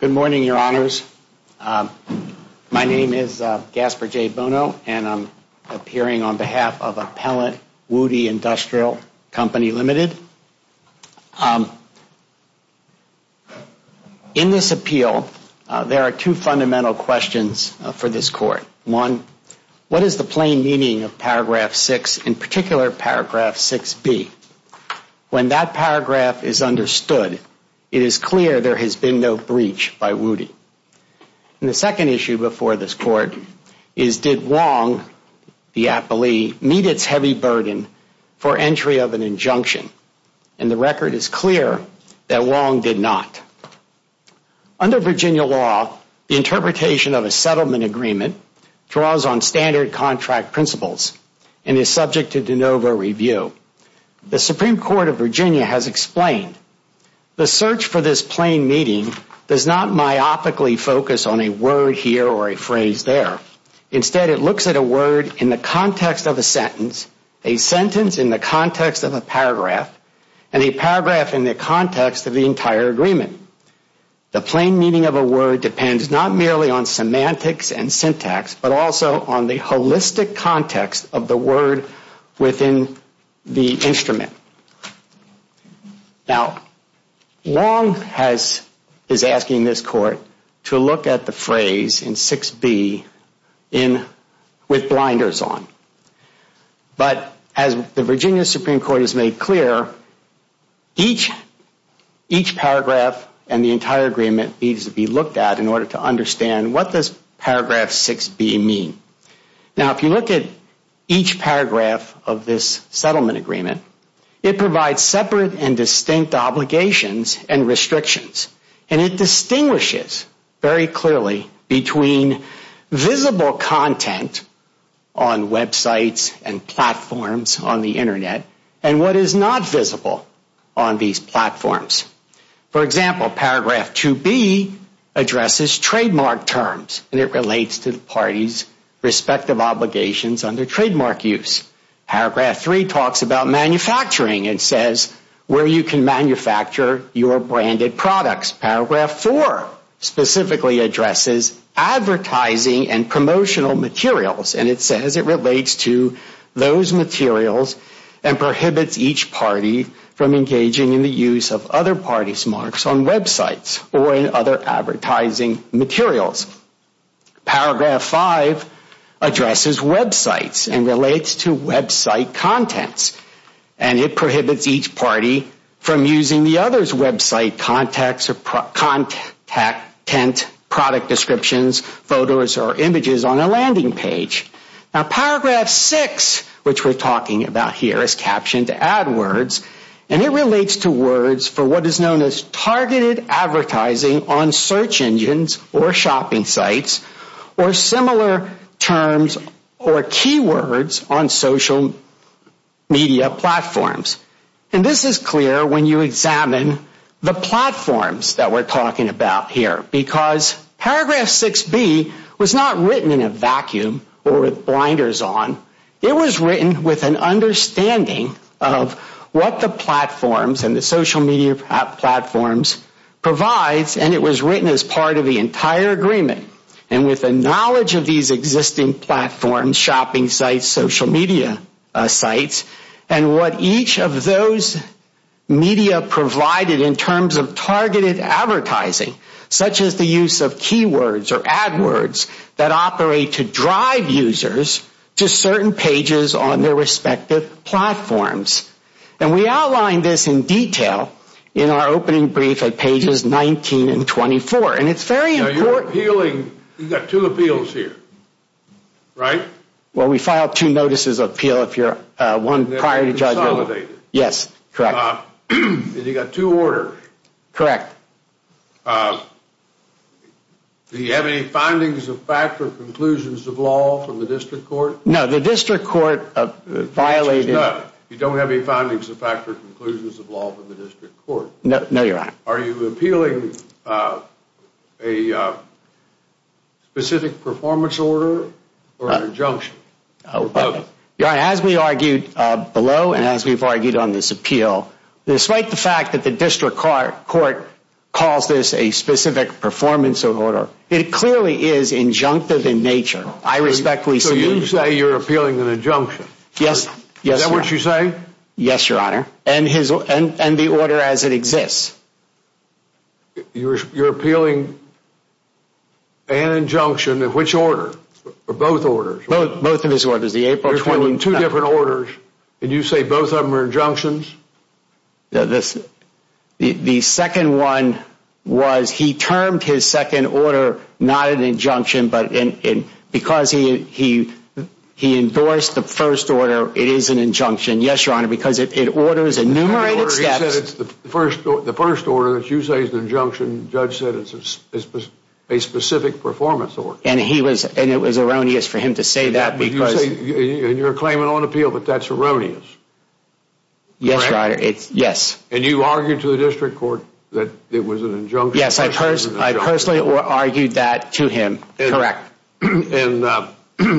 Good morning, Your Honors. My name is Gaspard J. Bono and I'm appearing on behalf of Appellant Wudi Industrial Co., Ltd. In this appeal, there are two fundamental questions for this Court. One, what is the plain meaning of Paragraph 6, in particular Paragraph 6B? When that paragraph is understood, it is clear there has been no breach by Wudi. And the second issue before this Court is did Wong, the appellee, meet its heavy burden for entry of an injunction? And the record is clear that Wong did not. Under Virginia law, the interpretation of a settlement agreement draws on standard contract principles and is subject to de novo review. The Supreme Court of Virginia has explained, the search for this plain meaning does not myopically focus on a word here or a phrase there. Instead, it looks at a word in the context of a sentence, a sentence in the context of a paragraph, and a paragraph in the context of the entire agreement. The plain meaning of a word depends not merely on semantics and syntax, but also on the holistic context of the word within the instrument. Now, Wong is asking this Court to look at the phrase in 6B with blinders on. But as the Virginia Supreme Court has made clear, each paragraph and the entire agreement needs to be looked at in order to understand what does paragraph 6B mean. Now, if you look at each paragraph of this settlement agreement, it provides separate and distinct obligations and restrictions. And it distinguishes very clearly between visible content on websites and platforms on the Internet and what is not visible on these platforms. For example, paragraph 2B addresses trademark terms, and it relates to the parties' respective obligations under trademark use. Paragraph 3 talks about manufacturing and says where you can manufacture your branded products. Paragraph 4 specifically addresses advertising and promotional materials, and it says it relates to those materials and prohibits each party from engaging in the use of other parties' marks on websites or in other advertising materials. Paragraph 5 addresses websites and relates to website contents, and it prohibits each party from using the other's website contacts or content, product descriptions, photos, or images on a landing page. Now, paragraph 6, which we're talking about here is captioned AdWords, and it relates to words for what is known as targeted advertising on search engines or shopping sites or similar terms or keywords on social media platforms. And this is clear when you examine the platforms that we're talking about here, because paragraph 6B was not written in a vacuum or with blinders on. It was written with an understanding of what the platforms and the social media platforms provides, and it was written as part of the entire agreement and with a knowledge of these existing platforms, shopping sites, social media sites, and what each of those media provided in terms of targeted advertising, such as the use of keywords or AdWords that operate to drive users to certain pages on their respective platforms. And we outlined this in detail in our opening brief at pages 19 and 24, and it's very important. Now, you're appealing, you've got two appeals here, right? Well, we file two notices of appeal if you're one prior to judgment. And they're consolidated. Yes, correct. And you've got two orders. Correct. Do you have any findings of fact or conclusions of law from the district court? No, the district court violated... Which is not, you don't have any findings of fact or conclusions of law from the district court. No, you're right. Are you appealing a specific performance order or an injunction, or both? You're right. As we argued below and as we've argued on this appeal, despite the fact that the district court calls this a specific performance of order, it clearly is injunctive in nature. I respectfully submit... So you say you're appealing an injunction. Yes. Is that what you say? Yes, Your Honor. And the order as it exists. You're appealing an injunction of which order? Or both orders? Both of his orders. There's 22 different orders, and you say both of them are injunctions? The second one was, he termed his second order not an injunction, but because he endorsed the first order, it is an injunction. Yes, Your Honor, because it orders enumerated steps. The first order that you say is an injunction, the judge said it's a specific performance order. And it was erroneous for him to say that because... And you're claiming on appeal that that's erroneous. Yes, Your Honor. Yes. And you argued to the district court that it was an injunction? Yes, I personally argued that to him. Correct. And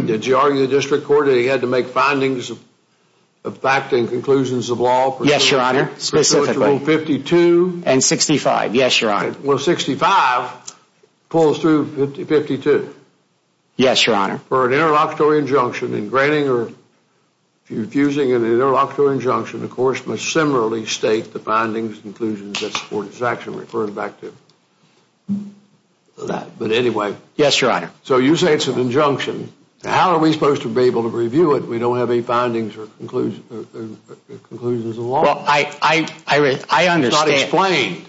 did you argue the district court that he had to make findings of fact and conclusions of law? Yes, Your Honor. Specifically. Specifically rule 52? And 65. Yes, Your Honor. Well, 65 pulls through 52. Yes, Your Honor. For an interlocutory injunction, in granting or infusing an interlocutory injunction, the court must similarly state the findings and conclusions that support its action, referring back to that. But anyway... Yes, Your Honor. So you say it's an injunction. How are we supposed to be able to review it if we don't have any findings or conclusions of law? Well, I understand... It's not explained.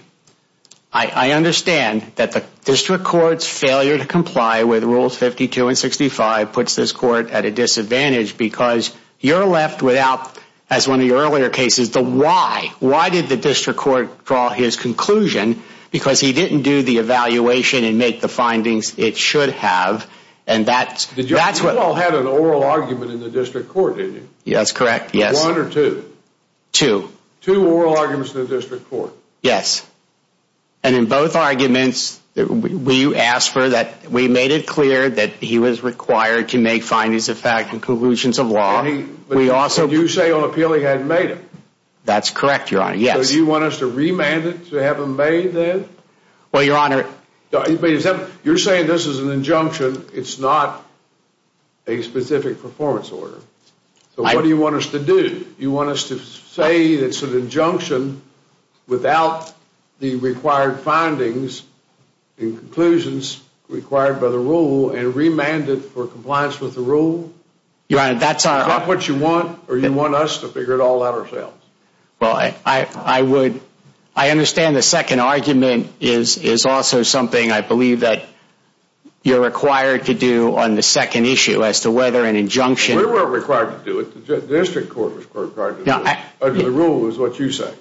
I understand that the district court's failure to comply with rules 52 and 65 puts this court at a disadvantage because you're left without, as one of your earlier cases, the why. Why did the district court draw his conclusion? Because he didn't do the evaluation and make the findings it should have, and that's what... You all had an oral argument in the district court, didn't you? Yes, correct. Yes. One or two? Two. Two oral arguments in the district court? Yes. And in both arguments, we asked for that, we made it clear that he was required to make findings of fact and conclusions of law. We also... But you say on appeal he hadn't made them. That's correct, Your Honor. Yes. So do you want us to remand it to have them made then? Well, Your Honor... You're saying this is an injunction. It's not a specific performance order. So what do you want us to do? You want us to say it's an injunction without the required findings and conclusions required by the rule and remand it for compliance with the rule? Your Honor, that's our... Is that what you want, or do you want us to figure it all out ourselves? Well, I would... I understand the second argument is also something I believe that you're required to do on the second issue as to whether an injunction... We weren't required to do it. The district court was required to do it. Now... Under the rule is what you say.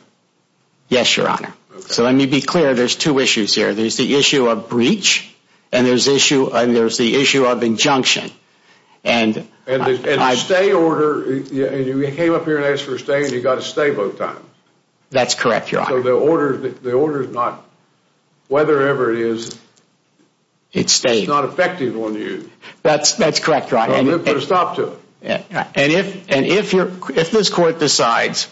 Yes, Your Honor. Okay. So let me be clear. There's two issues here. There's the issue of breach, and there's the issue of injunction. And... And the stay order, you came up here and asked for a stay, and you got a stay both times. That's correct, Your Honor. So the order is not... Whether ever it is... It stays. It's not effective on you. That's correct, Your Honor. And... You've got to stop to it. And if... And if you're... If this court decides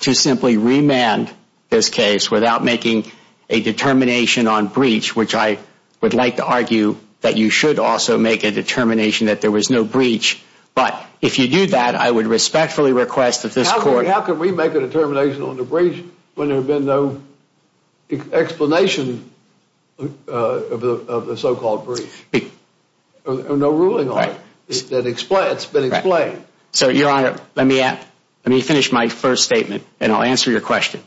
to simply remand this case without making a determination on breach, which I would like to argue that you should also make a determination that there was no breach, but if you do that, I would respectfully request that this court... How can we make a determination on the breach when there have been no explanation of the so-called breach? Be... Or no ruling on it. Right. That explain... It's been explained. Right. So, Your Honor, let me add... Let me finish my first statement, and I'll answer your question.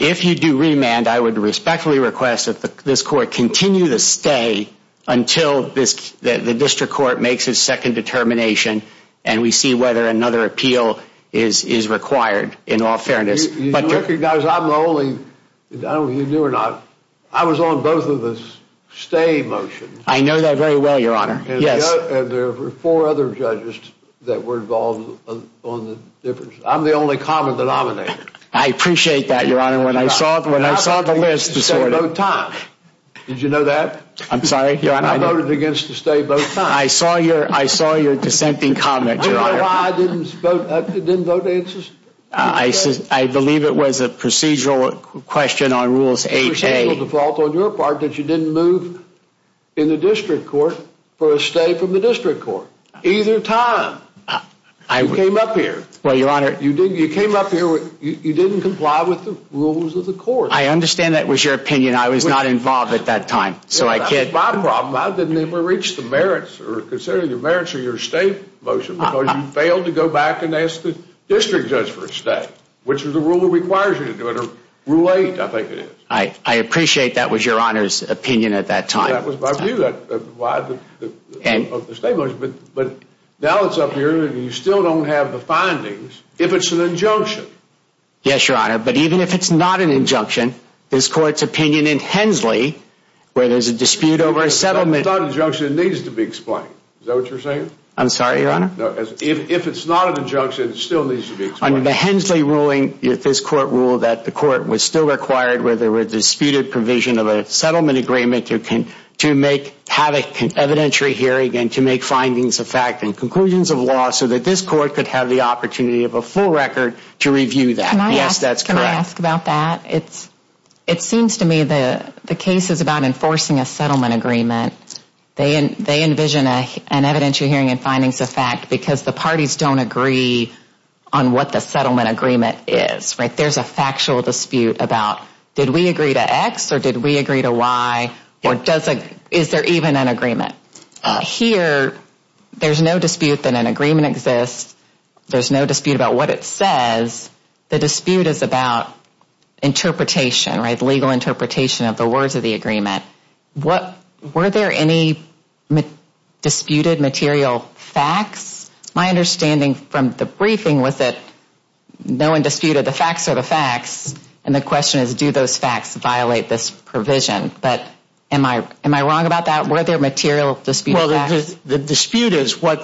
If you do remand, I would respectfully request that this court continue to stay until this... That the district court makes its second determination, and we see whether another appeal is required, in all fairness. You recognize I'm the only... I don't know if you knew or not. I was on both of the stay motions. I know that very well, Your Honor. Yes. And there were four other judges that were involved on the difference. I'm the only common denominator. I appreciate that, Your Honor. When I saw... When I saw the list this morning... I voted against the stay both times. Did you know that? I'm sorry? Your Honor, I... I voted against the stay both times. I saw your... I saw your dissenting comment, Your Honor. Do you know why I didn't vote... Didn't vote to insist? I... I believe it was a procedural question on rules 8A. Procedural default on your part that you didn't move in the district court for a stay from the district court. Either time. I... You came up here. Well, Your Honor... You didn't... You came up here with... You didn't comply with the rules of the court. I understand that was your opinion. I was not involved at that time, so I can't... That was my problem. I didn't ever reach the merits, or considering the merits of your stay motion, because you failed to go back and ask the district judge for a stay, which is the rule that requires you to do it, or rule 8, I think it is. I appreciate that was Your Honor's opinion at that time. That was my view of why the... Of the stay motion, but now it's up here, and you still don't have the findings, if it's an injunction. Yes, Your Honor, but even if it's not an injunction, this court's opinion in Hensley, where there's a dispute over a settlement... I thought an injunction needs to be explained. Is that what you're saying? I'm sorry, Your Honor? No, if it's not an injunction, it still needs to be explained. On the Hensley ruling, this court ruled that the court was still required, where there were disputed provision of a settlement agreement, to make... Have an evidentiary hearing and to make findings of fact and conclusions of law, so that this court could have the opportunity of a full record to review that. Can I ask... Yes, that's correct. Can I ask about that? It seems to me the case is about enforcing a settlement agreement. They envision an evidentiary hearing and findings of fact because the parties don't agree on what the settlement agreement is, right? There's a factual dispute about, did we agree to X or did we agree to Y, or is there even an agreement? Here, there's no dispute that an agreement exists. There's no dispute about what it says. The dispute is about interpretation, legal interpretation of the words of the agreement. Were there any disputed material facts? My understanding from the briefing was that no one disputed the facts are the facts, and the question is, do those facts violate this provision? But am I wrong about that? Were there material disputed facts? The dispute is what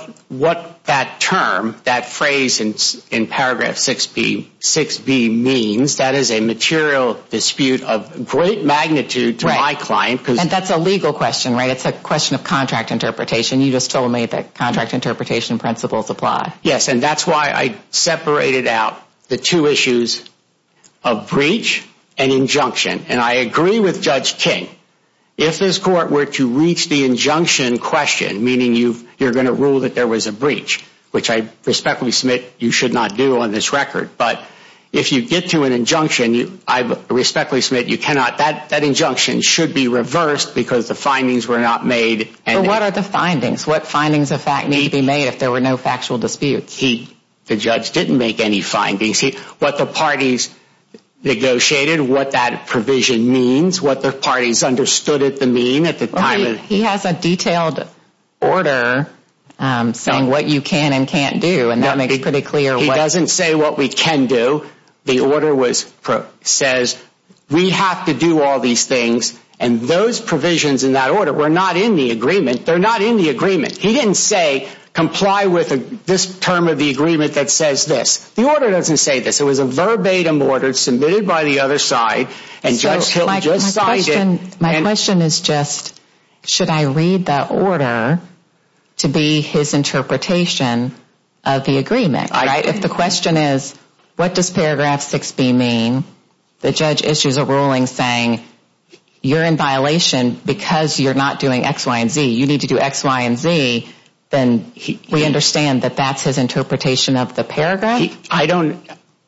that term, that phrase in paragraph 6B means. That is a material dispute of great magnitude to my client because... And that's a legal question, right? It's a question of contract interpretation. You just told me that contract interpretation principles apply. Yes, and that's why I separated out the two issues of breach and injunction, and I agree with Judge King. If this court were to reach the injunction question, meaning you're going to rule that there was a breach, which I respectfully submit you should not do on this record, but if you get to an injunction, I respectfully submit you cannot, that injunction should be reversed because the findings were not made. But what are the findings? What findings of fact need to be made if there were no factual disputes? The judge didn't make any findings. What the parties negotiated, what that provision means, what the parties understood it to mean at the time... He has a detailed order saying what you can and can't do, and that makes pretty clear what... The order says we have to do all these things, and those provisions in that order were not in the agreement. They're not in the agreement. He didn't say comply with this term of the agreement that says this. The order doesn't say this. It was a verbatim order submitted by the other side, and Judge Hill just signed it. My question is just, should I read that order to be his interpretation of the agreement? If the question is what does paragraph 6B mean, the judge issues a ruling saying you're in violation because you're not doing X, Y, and Z, you need to do X, Y, and Z, then we understand that that's his interpretation of the paragraph? I don't...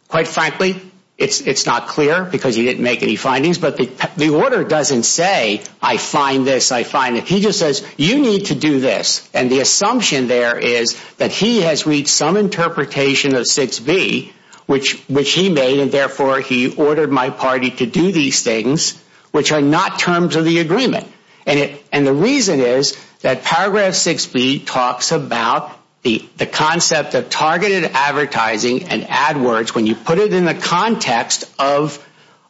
Quite frankly, it's not clear because he didn't make any findings, but the order doesn't say I find this, I find it. He just says you need to do this, and the 6B, which he made, and therefore he ordered my party to do these things, which are not terms of the agreement. The reason is that paragraph 6B talks about the concept of targeted advertising and ad words when you put it in the context of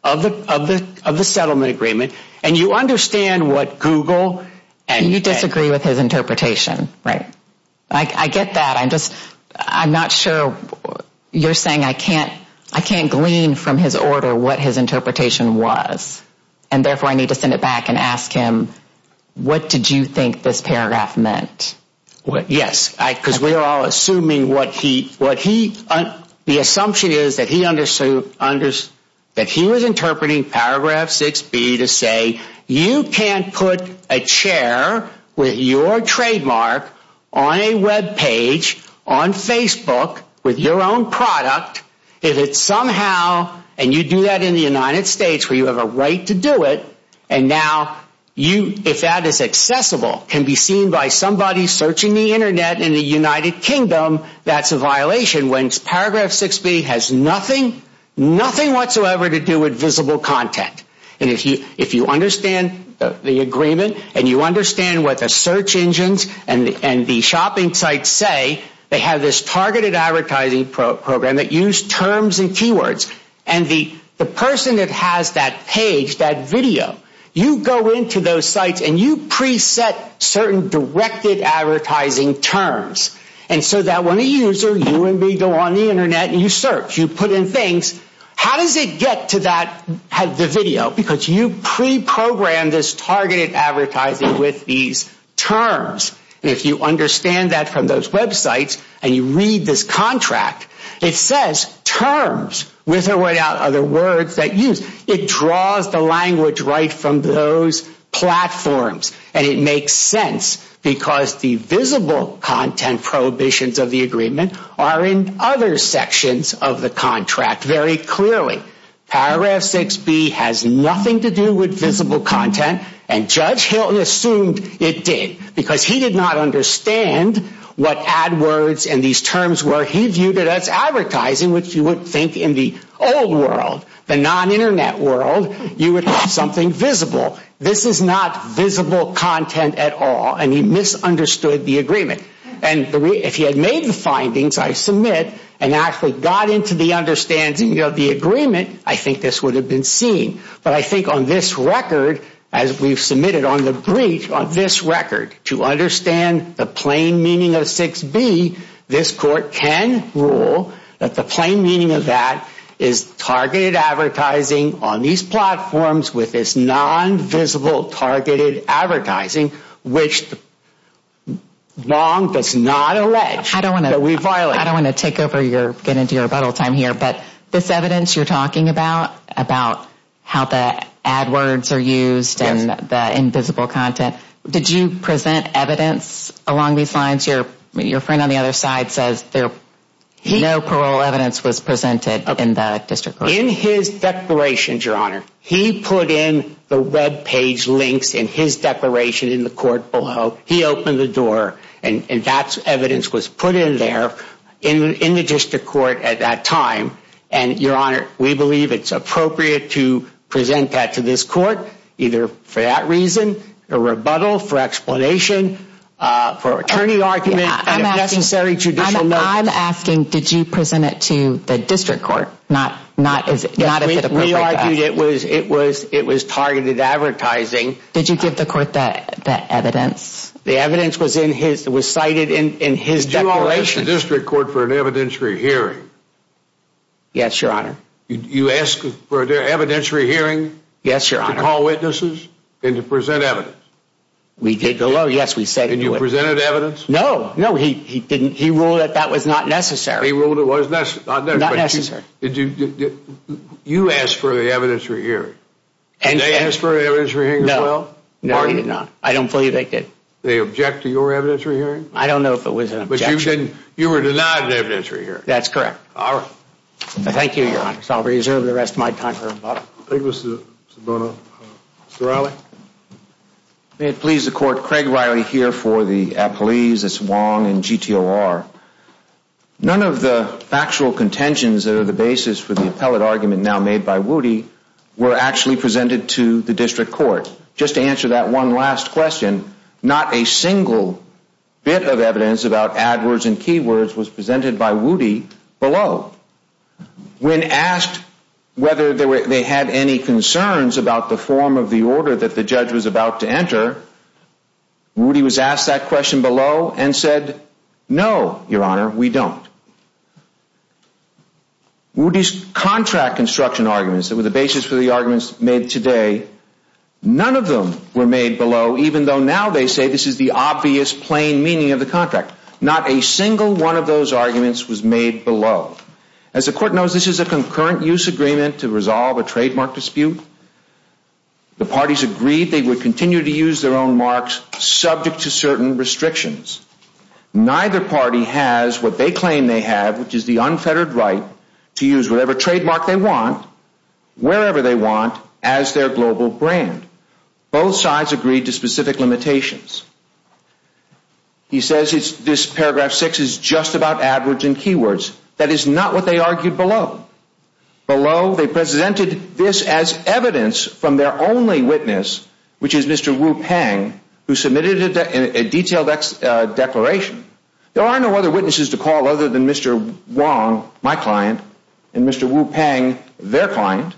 the settlement agreement, and you understand what Google and... You disagree with his interpretation, right? I get that. I'm just... I'm not sure... You're saying I can't glean from his order what his interpretation was, and therefore I need to send it back and ask him, what did you think this paragraph meant? Yes, because we are all assuming what he... The assumption is that he was interpreting paragraph 6B to say you can't put a chair with your trademark on a web page on Facebook with your own product if it's somehow... And you do that in the United States where you have a right to do it, and now you... If that is accessible, can be seen by somebody searching the internet in the United Kingdom, that's a violation when paragraph 6B has nothing, nothing whatsoever to do with visible content. And if you understand the agreement and you understand what the search engines and the shopping sites say, they have this targeted advertising program that use terms and keywords, and the person that has that page, that video, you go into those sites and you preset certain directed advertising terms, and so that when user, you and me go on the internet and you search, you put in things, how does it get to that, the video? Because you pre-programmed this targeted advertising with these terms, and if you understand that from those websites and you read this contract, it says terms, with or without other words that use. It draws the language right from those platforms, and it makes sense because the visible content prohibitions of the agreement are in other sections of the contract very clearly. Paragraph 6B has nothing to do with visible content, and Judge Hilton assumed it did, because he did not understand what AdWords and these terms were. He viewed it as advertising, which you would think in the old world, the non-internet world, you would have something visible. This is not visible content at all, and he misunderstood the agreement, and if he had made the findings, I submit, and actually got into the understanding of the agreement, I think this would have been seen, but I think on this record, as we've submitted on the brief, on this record, to understand the plain meaning of 6B, this court can rule that the plain meaning of that is targeted advertising on these platforms with this non-visible targeted advertising, which Long does not allege that we violated. I don't want to take over your, get into your rebuttal time here, but this evidence you're talking about, about how the AdWords are used and the invisible content, did you present evidence along these lines? Your friend on the other side says no parole evidence was presented in the district court. In his declarations, your honor, he put in the webpage links in his declaration in the court below, he opened the door, and that evidence was put in there in the district court at that time, and your honor, we believe it's appropriate to present that to this court, either for that reason, a rebuttal, for explanation, for attorney argument, I'm asking, did you present it to the district court? It was targeted advertising. Did you give the court that evidence? The evidence was in his, was cited in his declaration. The district court for an evidentiary hearing? Yes, your honor. You asked for an evidentiary hearing? Yes, your honor. To call witnesses and to present evidence? We did, yes, we said. And you presented evidence? No, no, he didn't, he ruled that that was not necessary. He ruled it was not necessary. You asked for the evidentiary hearing, and they asked for an evidentiary hearing as well? No, no, he did not. I don't fully evict it. They object to your evidentiary hearing? I don't know if it was an objection. But you were denied an evidentiary hearing? That's correct. All right. Thank you, your honor. So I'll reserve the rest of my time for rebuttal. Mr. Riley? May it please the court, Craig Riley here for the appellees. It's Wong and GTOR. None of the factual contentions that are the basis for the appellate argument now made by Woody were actually presented to the district court. Just to answer that one last question, not a single bit of evidence about adwords and keywords was presented by Woody below. When asked whether they had any concerns about the form of the order that the judge was about to enter, Woody was asked that question below and said, no, your honor, we don't. Woody's contract construction arguments that were the basis for the arguments made today, none of them were made below, even though now they say this is the obvious plain meaning of the contract. Not a single one of those arguments was made below. As the court knows, this is a concurrent use agreement to resolve a trademark dispute. The parties agreed they would continue to use their own marks subject to certain restrictions. Neither party has what they claim they have, which is the unfettered right to use whatever trademark they want, wherever they want, as their global brand. Both sides agreed to specific limitations. He says this paragraph 6 is just about adwords and keywords. That is not what they argued below. Below, they presented this as evidence from their only witness, which is Mr. Wu Pang, who submitted a detailed declaration. There are no other witnesses to call other than Mr. Wong, my client, and Mr. Wu Pang, their client.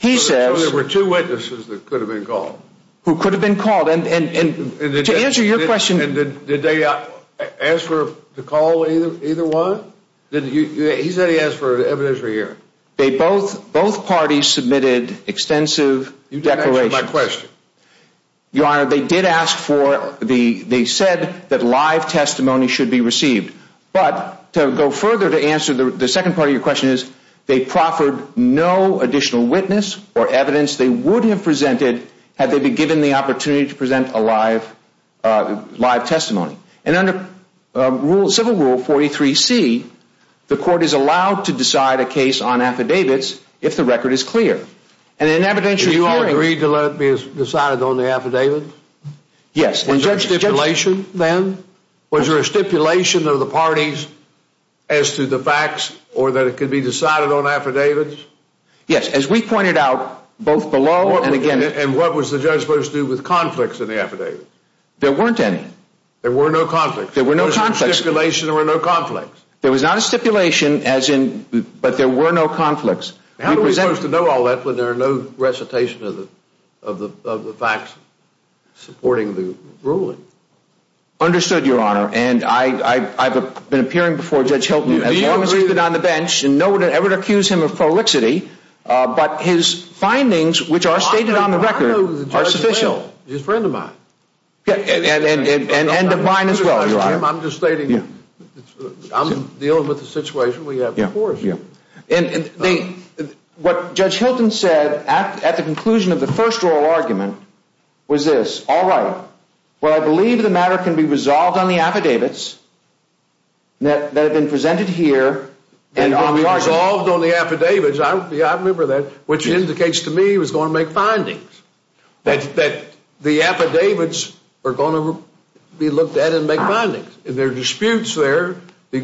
There were two witnesses that could have been called. Who could have been called. And to answer your question. Did they ask for the call of either one? He said he asked for evidence for hearing. Both parties submitted extensive declarations. You didn't answer my question. Your honor, they did ask for, they said that live the second part of your question is they proffered no additional witness or evidence they would have presented had they been given the opportunity to present a live testimony. And under civil rule 43C, the court is allowed to decide a case on affidavits if the record is clear. And in evidential hearings. Did you agree to let it be decided on the affidavit? Yes. Was there a stipulation then? Was there a stipulation of the parties as to the facts or that it could be decided on affidavits? Yes. As we pointed out, both below and again. And what was the judge supposed to do with conflicts in the affidavits? There weren't any. There were no conflicts. There were no conflicts. There was no stipulation or no conflicts. There was not a stipulation as in, but there were no conflicts. How are we supposed to know all that when there are no recitation of the, of the, of the facts supporting the ruling? Understood, Your Honor. And I, I, I've been appearing before Judge Hilton as long as he's been on the bench and no one ever accused him of prolixity. But his findings, which are stated on the record, are sufficient. He's a friend of mine. Yeah. And, and, and, and, and mine as well, Your Honor. I'm just stating, I'm dealing with the situation we have before us. Yeah. And, and what Judge Hilton said at, at the conclusion of the first oral argument was this, all right, well, I believe the matter can be resolved on the affidavits that, that have been presented here. And when we resolved on the affidavits, I, I remember that, which indicates to me he was going to make findings. That, that the affidavits are going to be looked at and make findings. In their disputes there, the,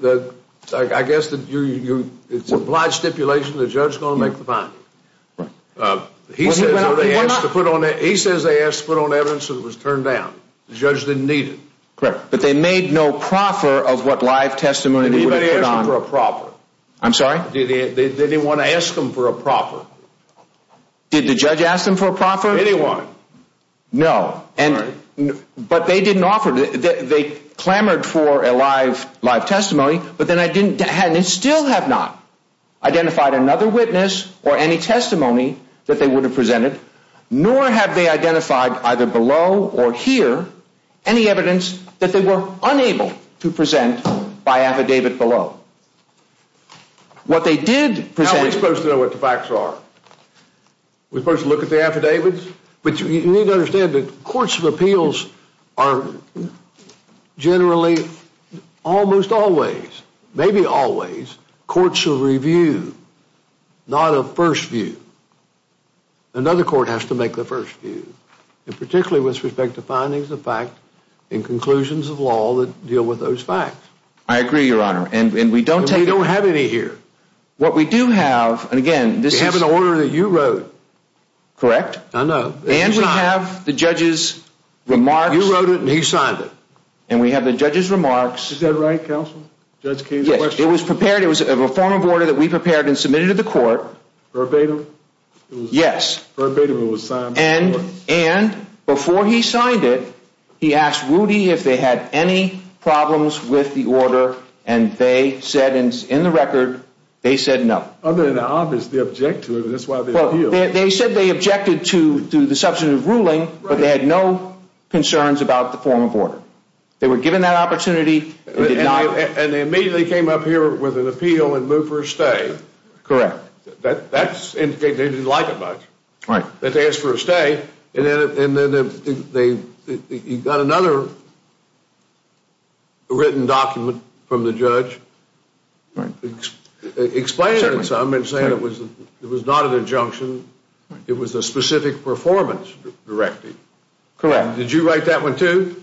the, I guess that you, you, it's implied stipulation, the judge is going to make the finding. He says they asked to put on, he says they asked to put on evidence that was turned down. The judge didn't need it. Correct. But they made no proffer of what live testimony they put on. They didn't ask for a proffer. I'm sorry? They didn't want to ask them for a proffer. Did the judge ask them for a proffer? Did he want it? No. And, but they didn't offer, they clamored for a live, live testimony, but then I didn't, hadn't, and still have not identified another witness or any testimony that they would have or hear any evidence that they were unable to present by affidavit below. What they did present. How are we supposed to know what the facts are? We're supposed to look at the affidavits? But you need to understand that courts of appeals are generally, almost always, maybe always, courts will review, not a first view. Another court has to make the first view, and particularly with respect to findings of fact and conclusions of law that deal with those facts. I agree, your honor, and we don't have any here. What we do have, and again, this is. We have an order that you wrote. Correct. I know. And we have the judge's remarks. You wrote it and he signed it. And we have the judge's remarks. Is that right, counsel? Yes, it was prepared, it was a form of order that we prepared and submitted to the court. Verbatim? Yes. Verbatim it was signed. And before he signed it, he asked Rudy if they had any problems with the order, and they said in the record, they said no. Other than obviously object to it, that's why they appealed. They said they objected to the substantive ruling, but they had no concerns about the form of order. They were given that opportunity. And they immediately came up here with an appeal and moved for a stay. Correct. That's indicated they didn't like it much. Right. That they asked for a stay, and then they got another written document from the judge explaining something, saying it was not an injunction. It was a specific performance directive. Correct. Did you write that one too?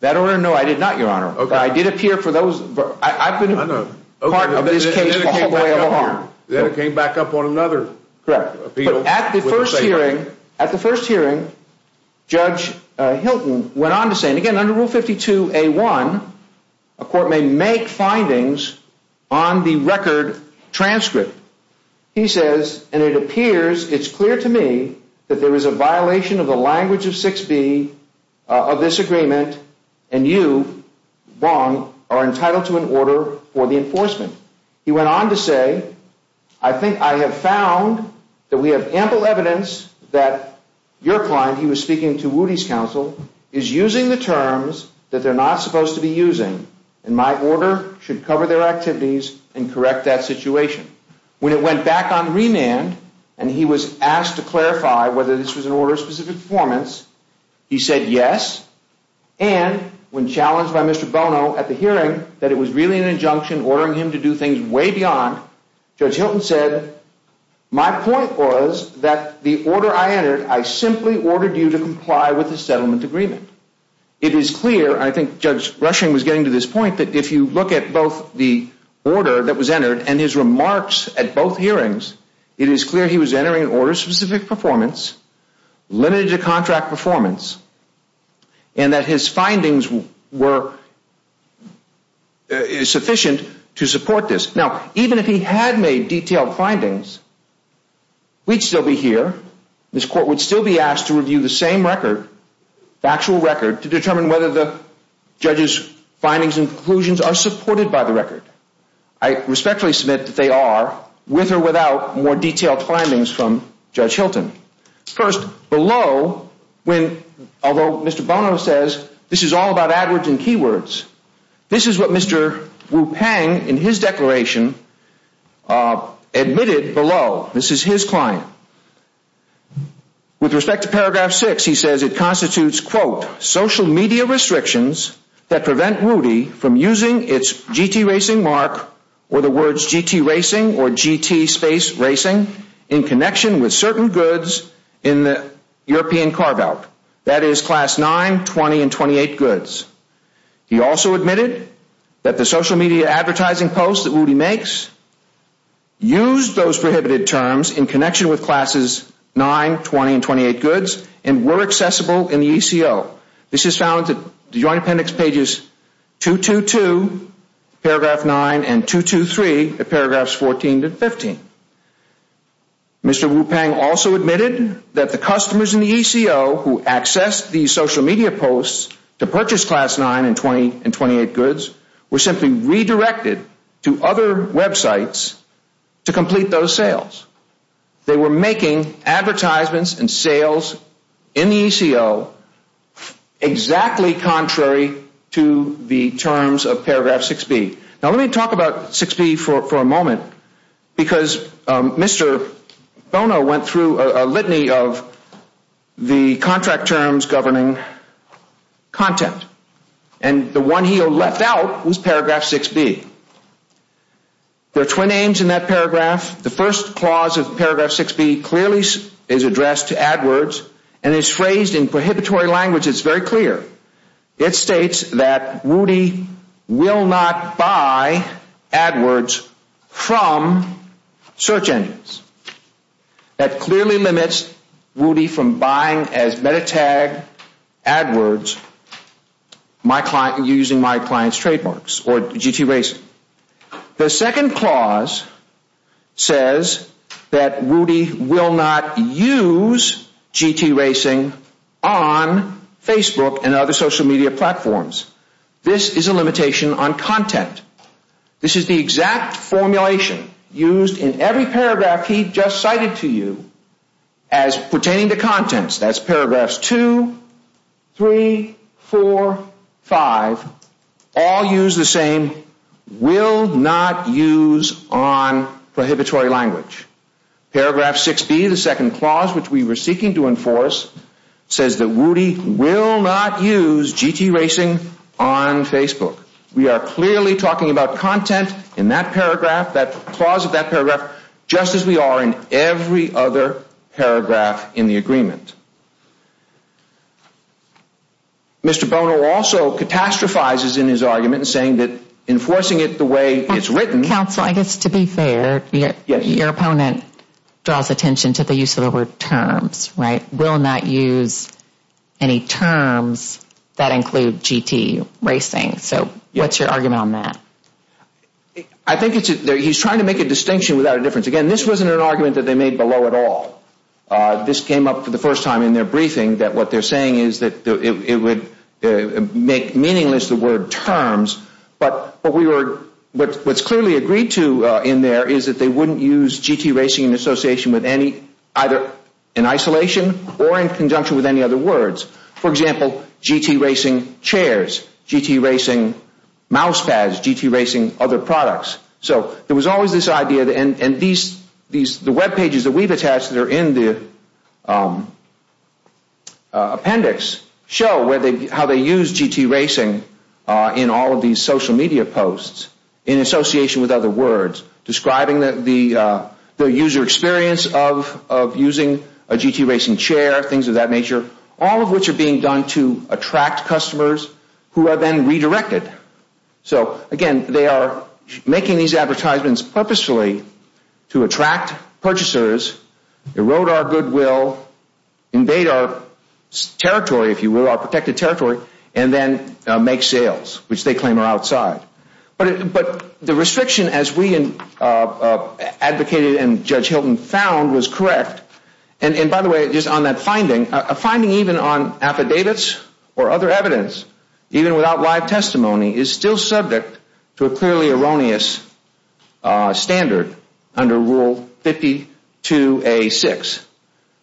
That order? No, I did not, Your Honor. Okay. I did appear for those, I've been a part of this case all the way along. Then it came back up on another appeal. At the first hearing, Judge Hilton went on to say, and again under Rule 52A1, a court may make findings on the record transcript. He says, and it appears, it's clear to me that there is a violation of the language of 6B of this agreement, and you, Wong, are entitled to an order for the enforcement. He went on to say, I think I have found that we have ample evidence that your client, he was speaking to Woody's counsel, is using the terms that they're not supposed to be using, and my order should cover their activities and correct that situation. When it went back on remand, and he was asked to clarify whether this was an order of specific performance, he said yes, and when challenged by Mr. Bono at the hearing that it was really an injunction ordering him to do things way beyond, Judge Hilton said, my point was that the order I entered, I simply ordered you to comply with the settlement agreement. It is clear, and I think Judge Rushing was getting to this point, that if you look at both the order that was entered and his he was entering an order of specific performance, limited to contract performance, and that his findings were sufficient to support this. Now, even if he had made detailed findings, we'd still be here, this court would still be asked to review the same record, the actual record, to determine whether the judge's findings and conclusions are supported by the record. I respectfully submit that they are, with or without more detailed findings from Judge Hilton. First, below, when, although Mr. Bono says this is all about AdWords and keywords, this is what Mr. Wu-Pang, in his declaration, admitted below. This is his client. With respect to paragraph six, he says it constitutes, quote, social media restrictions that prevent Rudy from using its GT racing mark, or the words GT racing or GT space racing, in connection with certain goods in the European carve-out. That is class 9, 20, and 28 goods. He also admitted that the social media advertising posts that Rudy makes used those prohibited terms in connection with classes 9, 20, and 28 goods and were accessible in the ECO. This is found in the Joint Appendix pages 222, paragraph 9, and 223, at paragraphs 14 to 15. Mr. Wu-Pang also admitted that the customers in the ECO who accessed these social media posts to purchase class 9 and 20 and 28 goods were simply redirected to other websites to complete those sales. They were making advertisements and sales in the ECO exactly contrary to the terms of paragraph 6b. Now let me talk about 6b for a moment because Mr. Bono went through a litany of the contract terms governing content and the one he left out was paragraph 6b. There are twin aims in that paragraph. The first clause of paragraph 6b clearly is addressed to AdWords and is phrased in prohibitory language that's very clear. It states that Rudy will not buy AdWords from search engines. That clearly limits Rudy from buying as meta-tag AdWords using my client's trademarks or GT Racing. The second clause says that Rudy will not use GT Racing on Facebook and other social media platforms. This is a limitation on content. This is the exact formulation used in every paragraph he just cited to you as pertaining to contents. That's paragraphs 2, 3, 4, 5 all use the same will not use on prohibitory language. Paragraph 6b the second clause which we were seeking to enforce says that Rudy will not use GT Racing on Facebook. We are clearly talking about content in that paragraph that clause of that paragraph just as we are in every other paragraph in the agreement. Mr. Bono also catastrophizes in his argument saying that enforcing it the way it's written. Counsel I guess to be fair your opponent draws attention to the use of the word terms right will not use any terms that include GT Racing. So what's your argument on that? I think it's he's trying to make a distinction without a difference. Again this wasn't an argument that they made below at all. This came up for the first time in their briefing that what they're saying is that it would make meaningless the word terms but what's clearly agreed to in there is that they wouldn't use GT Racing in association with any either in isolation or in conjunction with any other words. For example GT Racing chairs, GT Racing mouse pads, GT Racing other products. So there was always this idea and these webpages that we've attached that are in the appendix show how they use GT Racing in all of these social media posts in association with other words describing the user experience of using a GT Racing chair things of that nature all of which are being done to attract customers who are then redirected. So again they are making these advertisements purposefully to attract purchasers, erode our goodwill, invade our territory if you will our protected territory and then make sales which they claim are outside. But the restriction as we advocated and Judge Hilton found was or other evidence even without live testimony is still subject to a clearly erroneous standard under Rule 52A6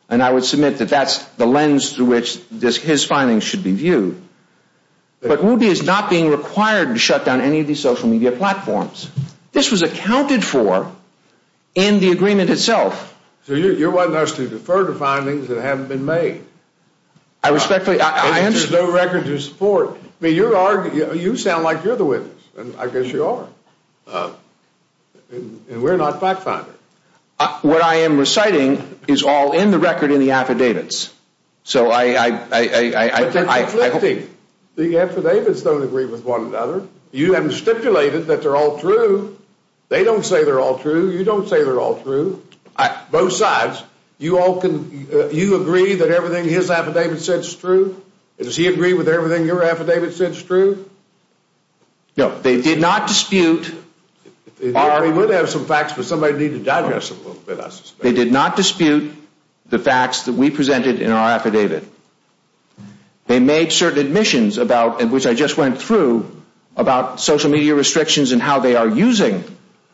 and I would submit that that's the lens through which his findings should be viewed. But Woody is not being required to shut down any of these social media platforms. This was accounted for in the agreement itself. So you're wanting us to defer to findings that haven't been made? I respectfully... There's no record to support. You sound like you're the witness and I guess you are. And we're not fact finders. What I am reciting is all in the record in the affidavits. So I... But they're conflicting. The affidavits don't agree with one another. You have stipulated that they're all true. They don't say they're all true. You don't say they're all true. Both sides. You agree that everything his affidavit says is true? Does he agree with everything your affidavit says is true? No. They did not dispute... He would have some facts but somebody would need to digest them a little bit I suspect. They did not dispute the facts that we presented in our affidavit. They made certain admissions about which I just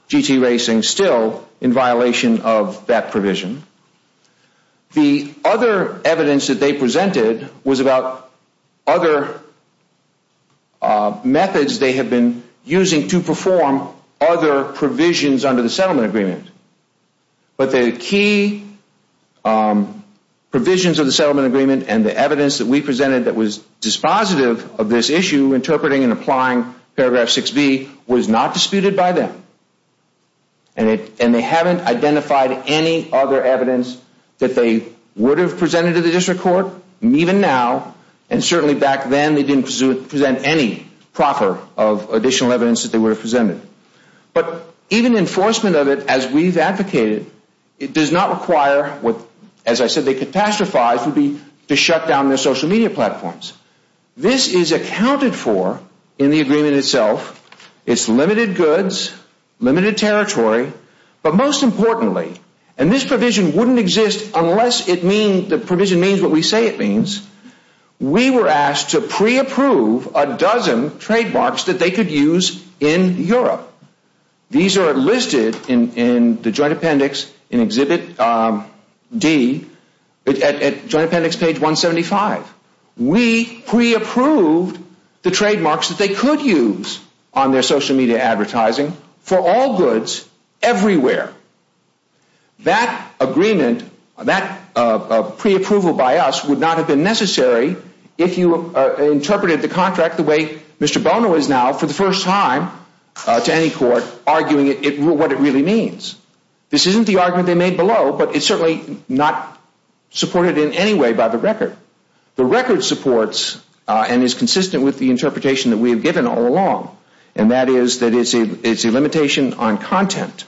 GT racing still in violation of that provision. The other evidence that they presented was about other methods they have been using to perform other provisions under the settlement agreement. But the key provisions of the settlement agreement and the evidence that we presented that was dispositive of this issue interpreting and applying paragraph 6B was not disputed by them. And they haven't identified any other evidence that they would have presented to the district court, even now, and certainly back then they didn't present any proffer of additional evidence that they would have presented. But even enforcement of it as we've advocated, it does not require what, as I said, they catastrophize down their social media platforms. This is accounted for in the agreement itself. It's limited goods, limited territory, but most importantly, and this provision wouldn't exist unless the provision means what we say it means, we were asked to pre-approve a dozen trademarks that they could use in Europe. These are listed in the joint appendix in Exhibit D, at joint appendix page 175. We pre-approved the trademarks that they could use on their social media advertising for all goods, everywhere. That agreement, that pre-approval by us would not have been necessary if you interpreted the contract the way Mr. Bono is now, for the first time to any court, arguing what it really means. This isn't the argument they made below, but it's certainly not supported in any way by the record. The record supports and is consistent with the interpretation that we have given all along, and that is that it's a limitation on content.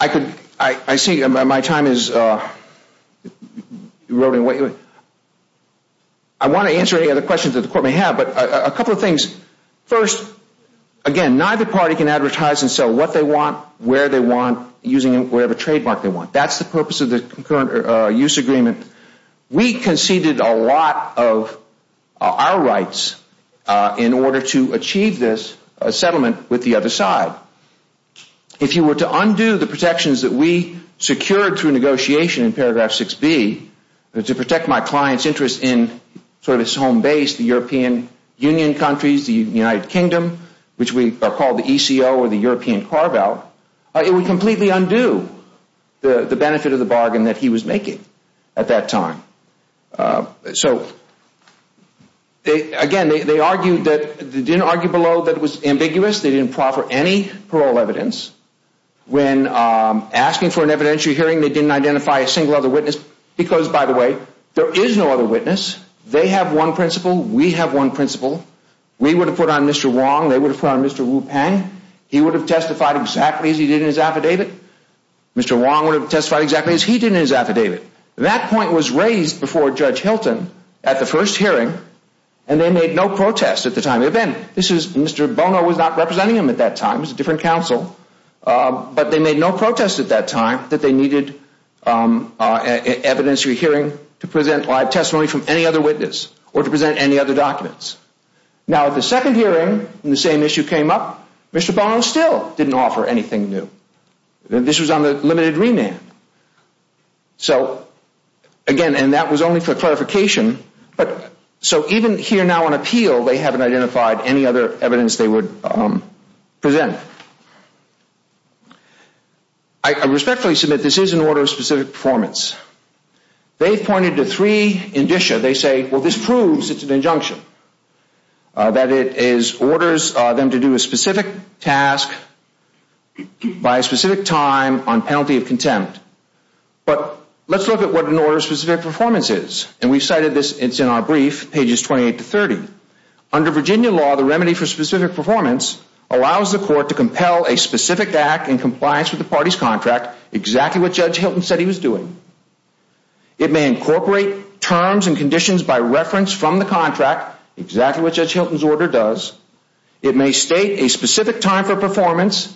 I could, I see my time is eroding away. I want to answer any other questions that the court may have, but a couple of things. First, again, neither party can say what they want, where they want, using whatever trademark they want. That's the purpose of the use agreement. We conceded a lot of our rights in order to achieve this settlement with the other side. If you were to undo the protections that we secured through negotiation in paragraph 6B, to protect my client's interest in sort of its home base, the European Union countries, the United Kingdom, which we call the ECO or the European carve-out, it would completely undo the benefit of the bargain that he was making at that time. So, again, they argued that, they didn't argue below that it was ambiguous, they didn't proffer any parole evidence. When asking for an evidentiary hearing, they didn't identify a single other witness, because, by the way, there is no other witness. They have one principal, we have one principal. We would have put on Mr. Wong, they would have put on Mr. Wu-Pang. He would have testified exactly as he did in his affidavit. Mr. Wong would have testified exactly as he did in his affidavit. That point was raised before Judge Hilton at the first hearing, and they made no protest at the time. Mr. Bono was not representing him at that time, he was a different counsel, but they made no protest at that time that they needed evidentiary hearing to present live testimony from any other witness, or to present any other documents. Now, at the second hearing, when the same issue came up, Mr. Bono still didn't offer anything new. This was on the limited remand. So, again, and that was only for clarification, so even here now on appeal, they haven't identified any other evidence they would present. I respectfully submit this is an order of specific performance. They've pointed to three indicia. They say, well, this proves it's an injunction. That it orders them to do a specific task by a specific time on penalty of contempt. But let's look at what an order of specific performance is. And we've cited this, it's in our brief, pages 28 to 30. Under Virginia law, the remedy for specific performance allows the court to compel a specific act in compliance with the party's contract, exactly what Judge Hilton said he was doing. It may incorporate terms and conditions by reference from the contract, exactly what Judge Hilton's order does. It may state a specific time for the order to be enforced.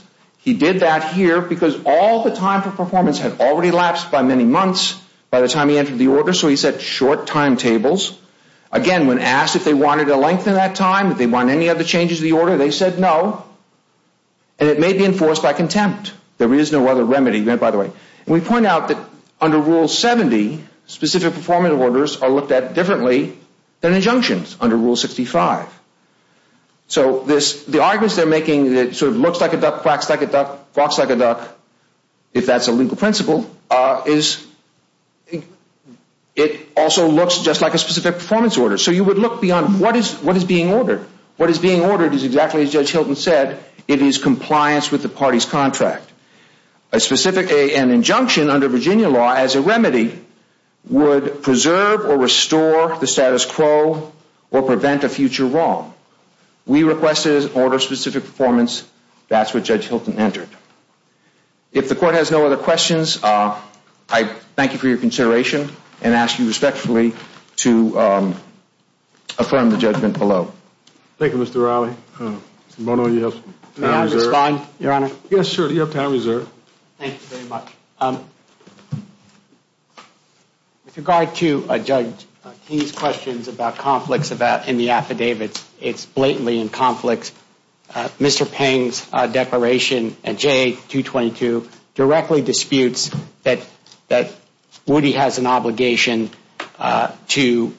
And it may be enforced by contempt. There is no other remedy, by the way. And we point out that under Rule 70, specific performance orders are looked at differently than injunctions under Rule 65. So the arguments they're making, it sort of looks like a duck, quacks like It also looks just like a specific performance order. So you would look beyond what is being ordered. What is being ordered is exactly as Judge Hilton said, it is compliance with the party's contract. An injunction under Virginia law as a remedy would preserve or restore the status quo or prevent a future wrong. We requested an order of specific performance. That's what Judge Hilton entered. If the court has no other questions, I thank you for your consideration and ask you respectfully to affirm the judgment below. Thank you, Mr. Riley. Mr. Bono, you have time reserved. May I respond, Your Honor? Yes, sure. You have time reserved. Thank you very much. With regard to Judge King's questions about conflicts in the affidavits, it's blatantly in conflict. Mr. Peng's declaration in JA 222 directly disputes that Woody has an obligation to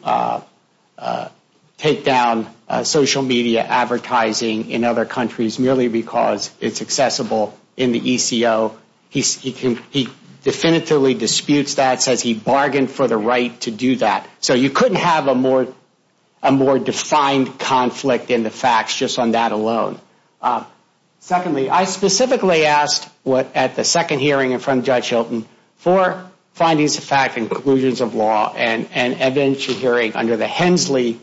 take down social media advertising in other countries merely because it's inaccessible in the ECO. He definitively disputes that, says he bargained for the right to do that. So you couldn't have a more defined conflict in the facts just on that alone. Secondly, I specifically asked at the second hearing in front of Judge Hilton for findings of fact and conclusions of law and evidentiary hearing under the Hensley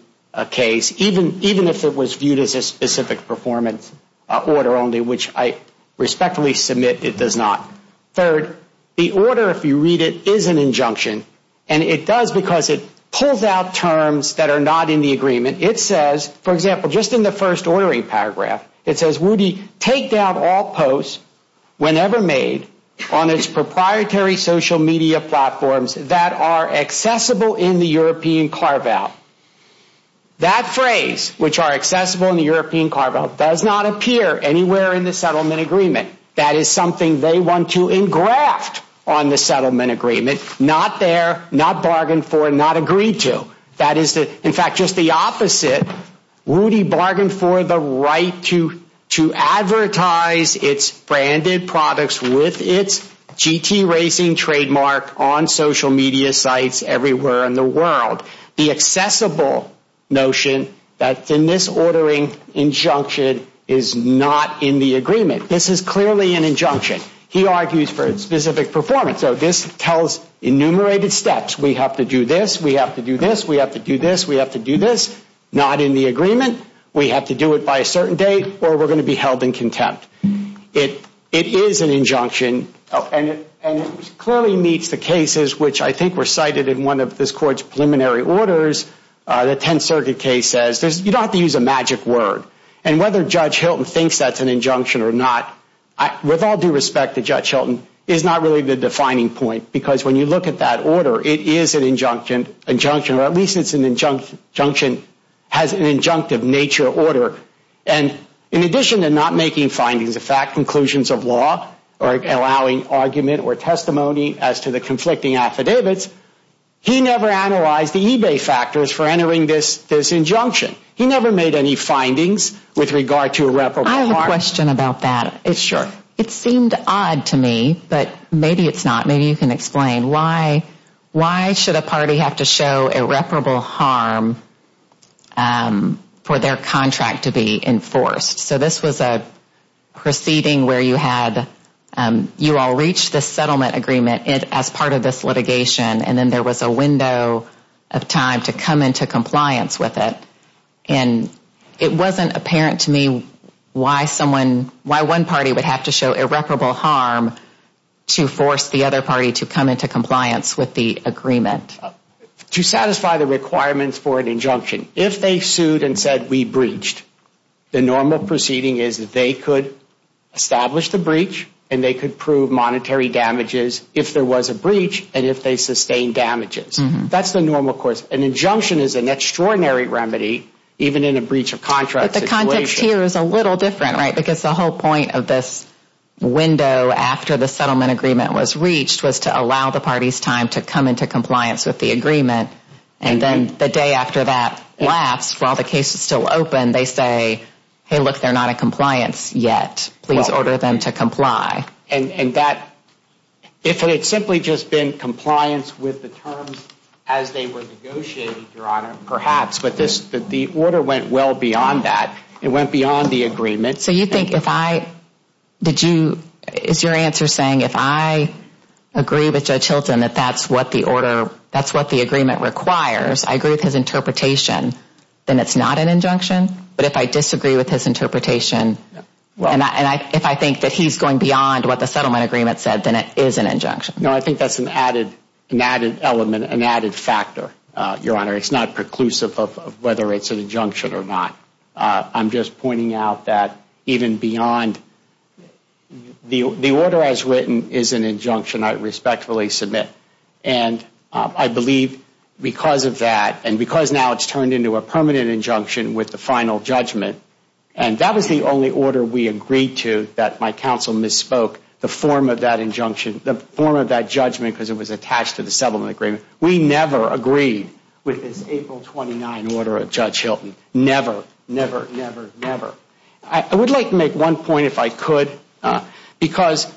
case, even if it was viewed as a specific performance order only, which I respectfully submit it does not. Third, the order, if you read it, is an injunction, and it does because it pulls out terms that are not in the agreement. It says, for example, just in the first ordering paragraph, it says, Woody, take down all posts whenever made on its proprietary social media platforms that are accessible in the European carve-out. That phrase, which are accessible in the European carve-out, does not appear anywhere in the settlement agreement. That is something they want to engraft on the settlement agreement. Not there, not bargained for, not agreed to. That is, in fact, just the opposite. Woody bargained for the accessible notion that in this ordering injunction is not in the agreement. This is clearly an injunction. He argues for specific performance. So this tells enumerated steps. We have to do this. We have to do this. We have to do this. We have to do this. Not in the agreement. We have to do it by a certain date or we're going to be held in contempt. It is an injunction, and it clearly meets the cases, which I think were cited in one of this court's preliminary orders. The Tenth Circuit case says you don't have to use a magic word. And whether Judge Hilton thinks that's an injunction or not, with all due respect to Judge Hilton, is not really the defining point. Because when you look at that order, it is an injunction, or at least it's an injunction, has an injunctive nature order. And in addition to not making findings of fact, conclusions of law, or allowing argument or testimony as to the conflicting affidavits, he never analyzed the eBay factors for entering this He never made any findings with regard to irreparable harm. I have a question about that. It seemed odd to me, but maybe it's not. Maybe you can explain. Why should a party have to show irreparable harm for their contract to be enforced? So this was a proceeding where you had, you all reached this settlement agreement as part of this litigation, and then there was a window of time to come into compliance with it. And it wasn't apparent to me why someone, why one party would have to show irreparable harm to force the other party to come into compliance with the agreement. To satisfy the requirements for an injunction, if they sued and said we breached, the normal proceeding is that they could establish the breach, and they could prove monetary damages if there was a breach, and if they sustained damages. That's the normal course. An injunction is an extraordinary remedy, even in a breach of contract situation. But here it's a little different, right? Because the whole point of this window after the settlement agreement was reached was to allow the party's time to come into compliance with the agreement. And then the day after that lapse, while the case is still open, they say, hey, look, they're not in compliance yet. Please order them to comply. And that, if it had simply just been compliance with the terms as they were negotiating, Your Honor, perhaps, but the order went well beyond that. It went beyond the agreement. So you think if I, did you, is your answer saying if I agree with Judge Hilton that that's what the order, that's what the agreement requires, I agree with his agreement said, then it is an injunction? No, I think that's an added element, an added factor, Your Honor. It's not preclusive of whether it's an injunction or not. I'm just pointing out that even beyond, the order as written is an injunction I respectfully submit. And I believe because of that, and because now it's turned into a permanent injunction with the final judgment, and that was the only order we agreed to that my counsel misspoke, the form of that injunction, the form of that judgment because it was attached to the settlement agreement. We never agreed with this April 29 order of Judge Hilton. Never, never, never, never. I would like to make one point if I could because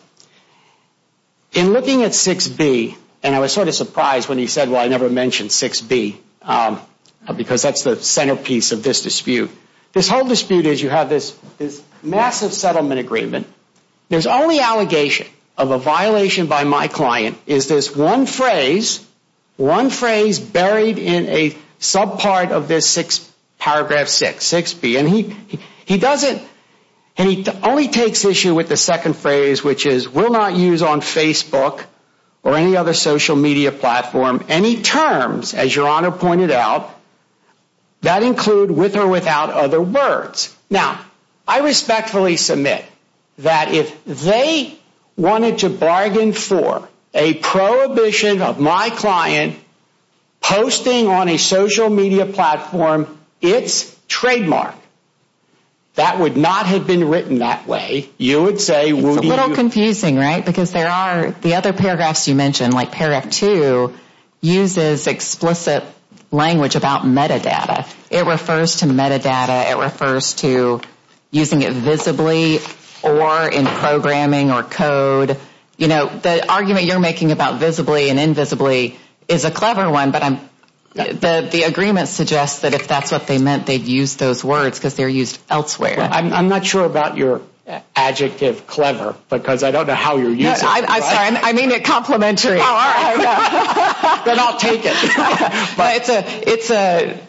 in looking at 6B, and I was sort of surprised when he said, well, I never mentioned 6B because that's the centerpiece of this dispute. This whole dispute is you have this massive settlement agreement. There's only allegation of a violation by my client is this one phrase, one phrase buried in a subpart of this 6, paragraph 6, 6B. And he doesn't, and he only takes issue with the second phrase which is, will not use on Facebook or any other social media platform any terms, as Your Honor pointed out, that include with or without other words. Now, I respectfully submit that if they wanted to bargain for a prohibition of my client posting on a social media platform its trademark, that would not have been written that way. It's a little confusing, right, because there are the other paragraphs you mentioned like paragraph 2 uses explicit language about metadata. It refers to metadata. It refers to using it visibly or in programming or code. You know, the argument you're making about visibly and invisibly is a clever one, but the agreement suggests that if that's what they meant, they'd use those words because they're used elsewhere. I'm not sure about your adjective clever because I don't know how you're using it. I'm sorry, I mean it complimentary. Then I'll take it. But it's a,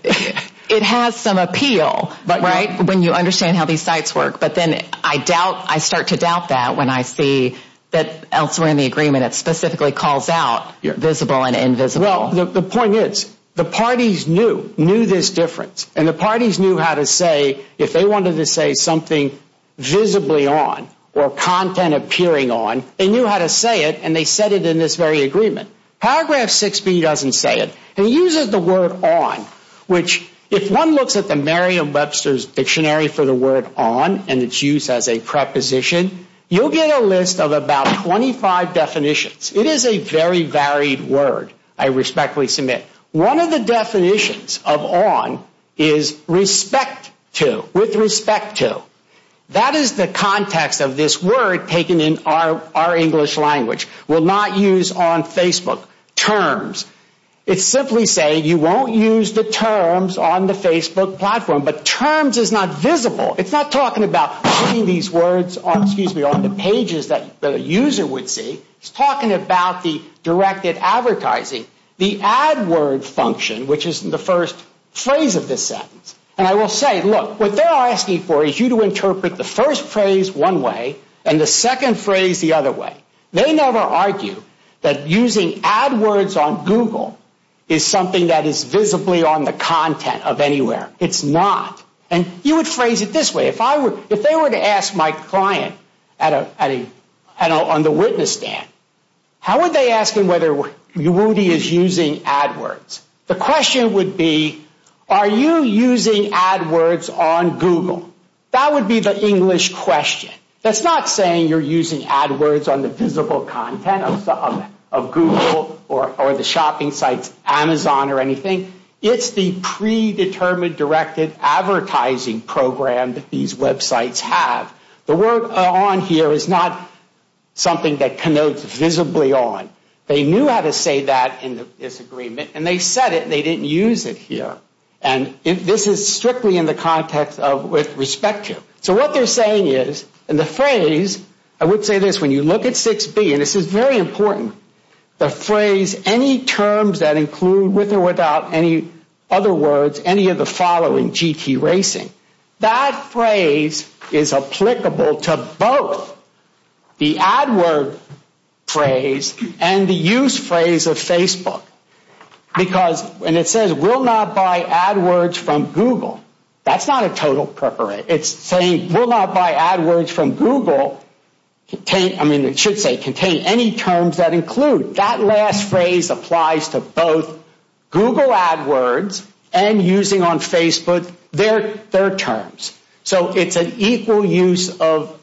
it has some appeal, right, when you understand how these sites work. But then I doubt, I start to doubt that when I see that elsewhere in the agreement it specifically calls out visible and invisible. Well, the point is the parties knew, knew this difference, and the parties knew how to say if they wanted to say something visibly on or content appearing on, they knew how to say it and they said it in this very agreement. Paragraph 6B doesn't say it. It uses the word on, which if one looks at the Merriam-Webster's Dictionary for the word on and its use as a preposition, you'll get a list of about 25 definitions. It is a very varied word, I respectfully submit. One of the definitions of on is respect to, with respect to. That is the context of this word taken in our English language. We'll not use on Facebook terms. It's simply saying you won't use the terms on the Facebook platform, but terms is not visible. It's not talking about putting these words on, excuse me, on the pages that the user would see. It's talking about the directed advertising, the ad word function, which is the first phrase of this sentence. And I will say, look, what they're asking for is you to interpret the first phrase one way and the second phrase the other way. They never argue that using ad words on Google is something that is visibly on the content of anywhere. It's not. And you would phrase it this way. If they were to ask my client on the witness stand, how would they ask him whether Rudy is using ad words? The question would be, are you using ad words on Google? That would be the English question. That's not saying you're using ad words on the visible content of Google or the shopping sites, Amazon or anything. It's the predetermined directed advertising program that these websites have. The word on here is not something that connotes visibly on. They knew how to say that in this agreement, and they said it, and they didn't use it here. And this is strictly in the context of with respect to. So what they're saying is, and the phrase, I would say this, when you look at 6B, and this is very important, the phrase, any terms that include, with or without any other words, any of the following, GT racing, that phrase is applicable to both the ad word phrase and the use phrase of Facebook. Because, and it says, will not buy ad words from Google. That's not a total preparation. It's saying, will not buy ad words from Google. I mean, it should say contain any terms that include. That last phrase applies to both Google ad words and using on Facebook their terms. So it's an equal use of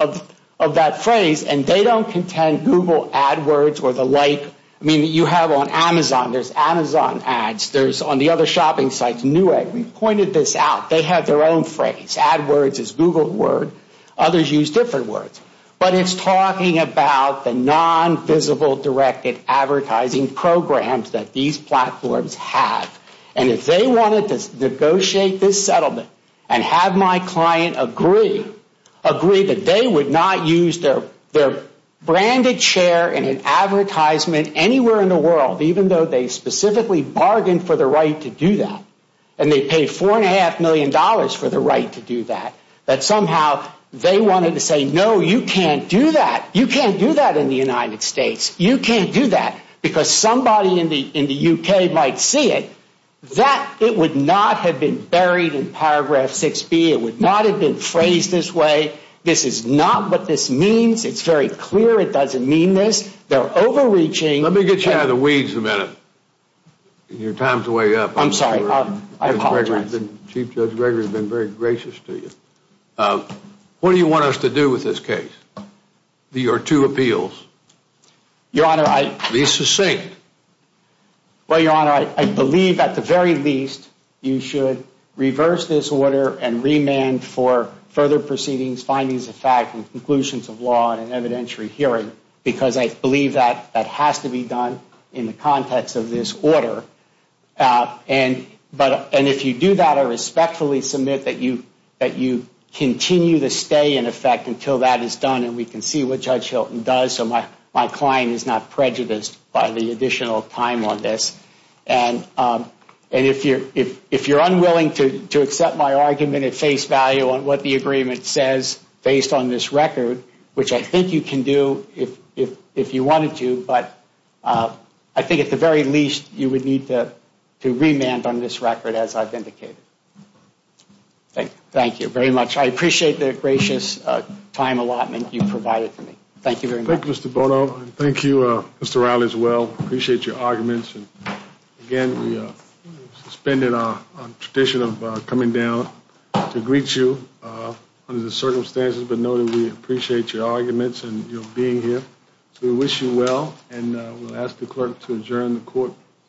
that phrase, and they don't contend Google ad words or the like. I mean, you have on Amazon, there's Amazon ads. There's on the other shopping sites, Newegg. We've pointed this out. They have their own phrase. Ad words is Google word. Others use different words. But it's talking about the non-visible directed advertising programs that these platforms have. And if they wanted to negotiate this settlement and have my client agree, agree that they would not use their branded share in an advertisement anywhere in the world, even though they specifically bargained for the right to do that, and they paid $4.5 million for the right to do that, that somehow they wanted to say, no, you can't do that. You can't do that in the United States. You can't do that because somebody in the U.K. might see it. That, it would not have been buried in paragraph 6B. It would not have been phrased this way. This is not what this means. It's very clear it doesn't mean this. They're overreaching. Let me get you out of the weeds a minute. Your time's way up. I'm sorry. I apologize. Chief Judge Gregory has been very gracious to you. What do you want us to do with this case, your two appeals? Your Honor, I – Be succinct. Well, Your Honor, I believe at the very least you should reverse this order and remand for further proceedings, findings of fact, and conclusions of law and an evidentiary hearing because I believe that that has to be done in the context of this order. And if you do that, I respectfully submit that you continue to stay in effect until that is done and we can see what Judge Hilton does so my client is not prejudiced by the additional time on this. And if you're unwilling to accept my argument at face value on what the agreement says based on this record, which I think you can do if you wanted to, but I think at the very least you would need to remand on this record as I've indicated. Thank you. Thank you very much. I appreciate the gracious time allotment you've provided for me. Thank you very much. Thank you, Mr. Bono. Thank you, Mr. Riley, as well. I appreciate your arguments. Again, we suspended our tradition of coming down to greet you under the circumstances, but know that we appreciate your arguments and your being here. So we wish you well and we'll ask the clerk to adjourn the court.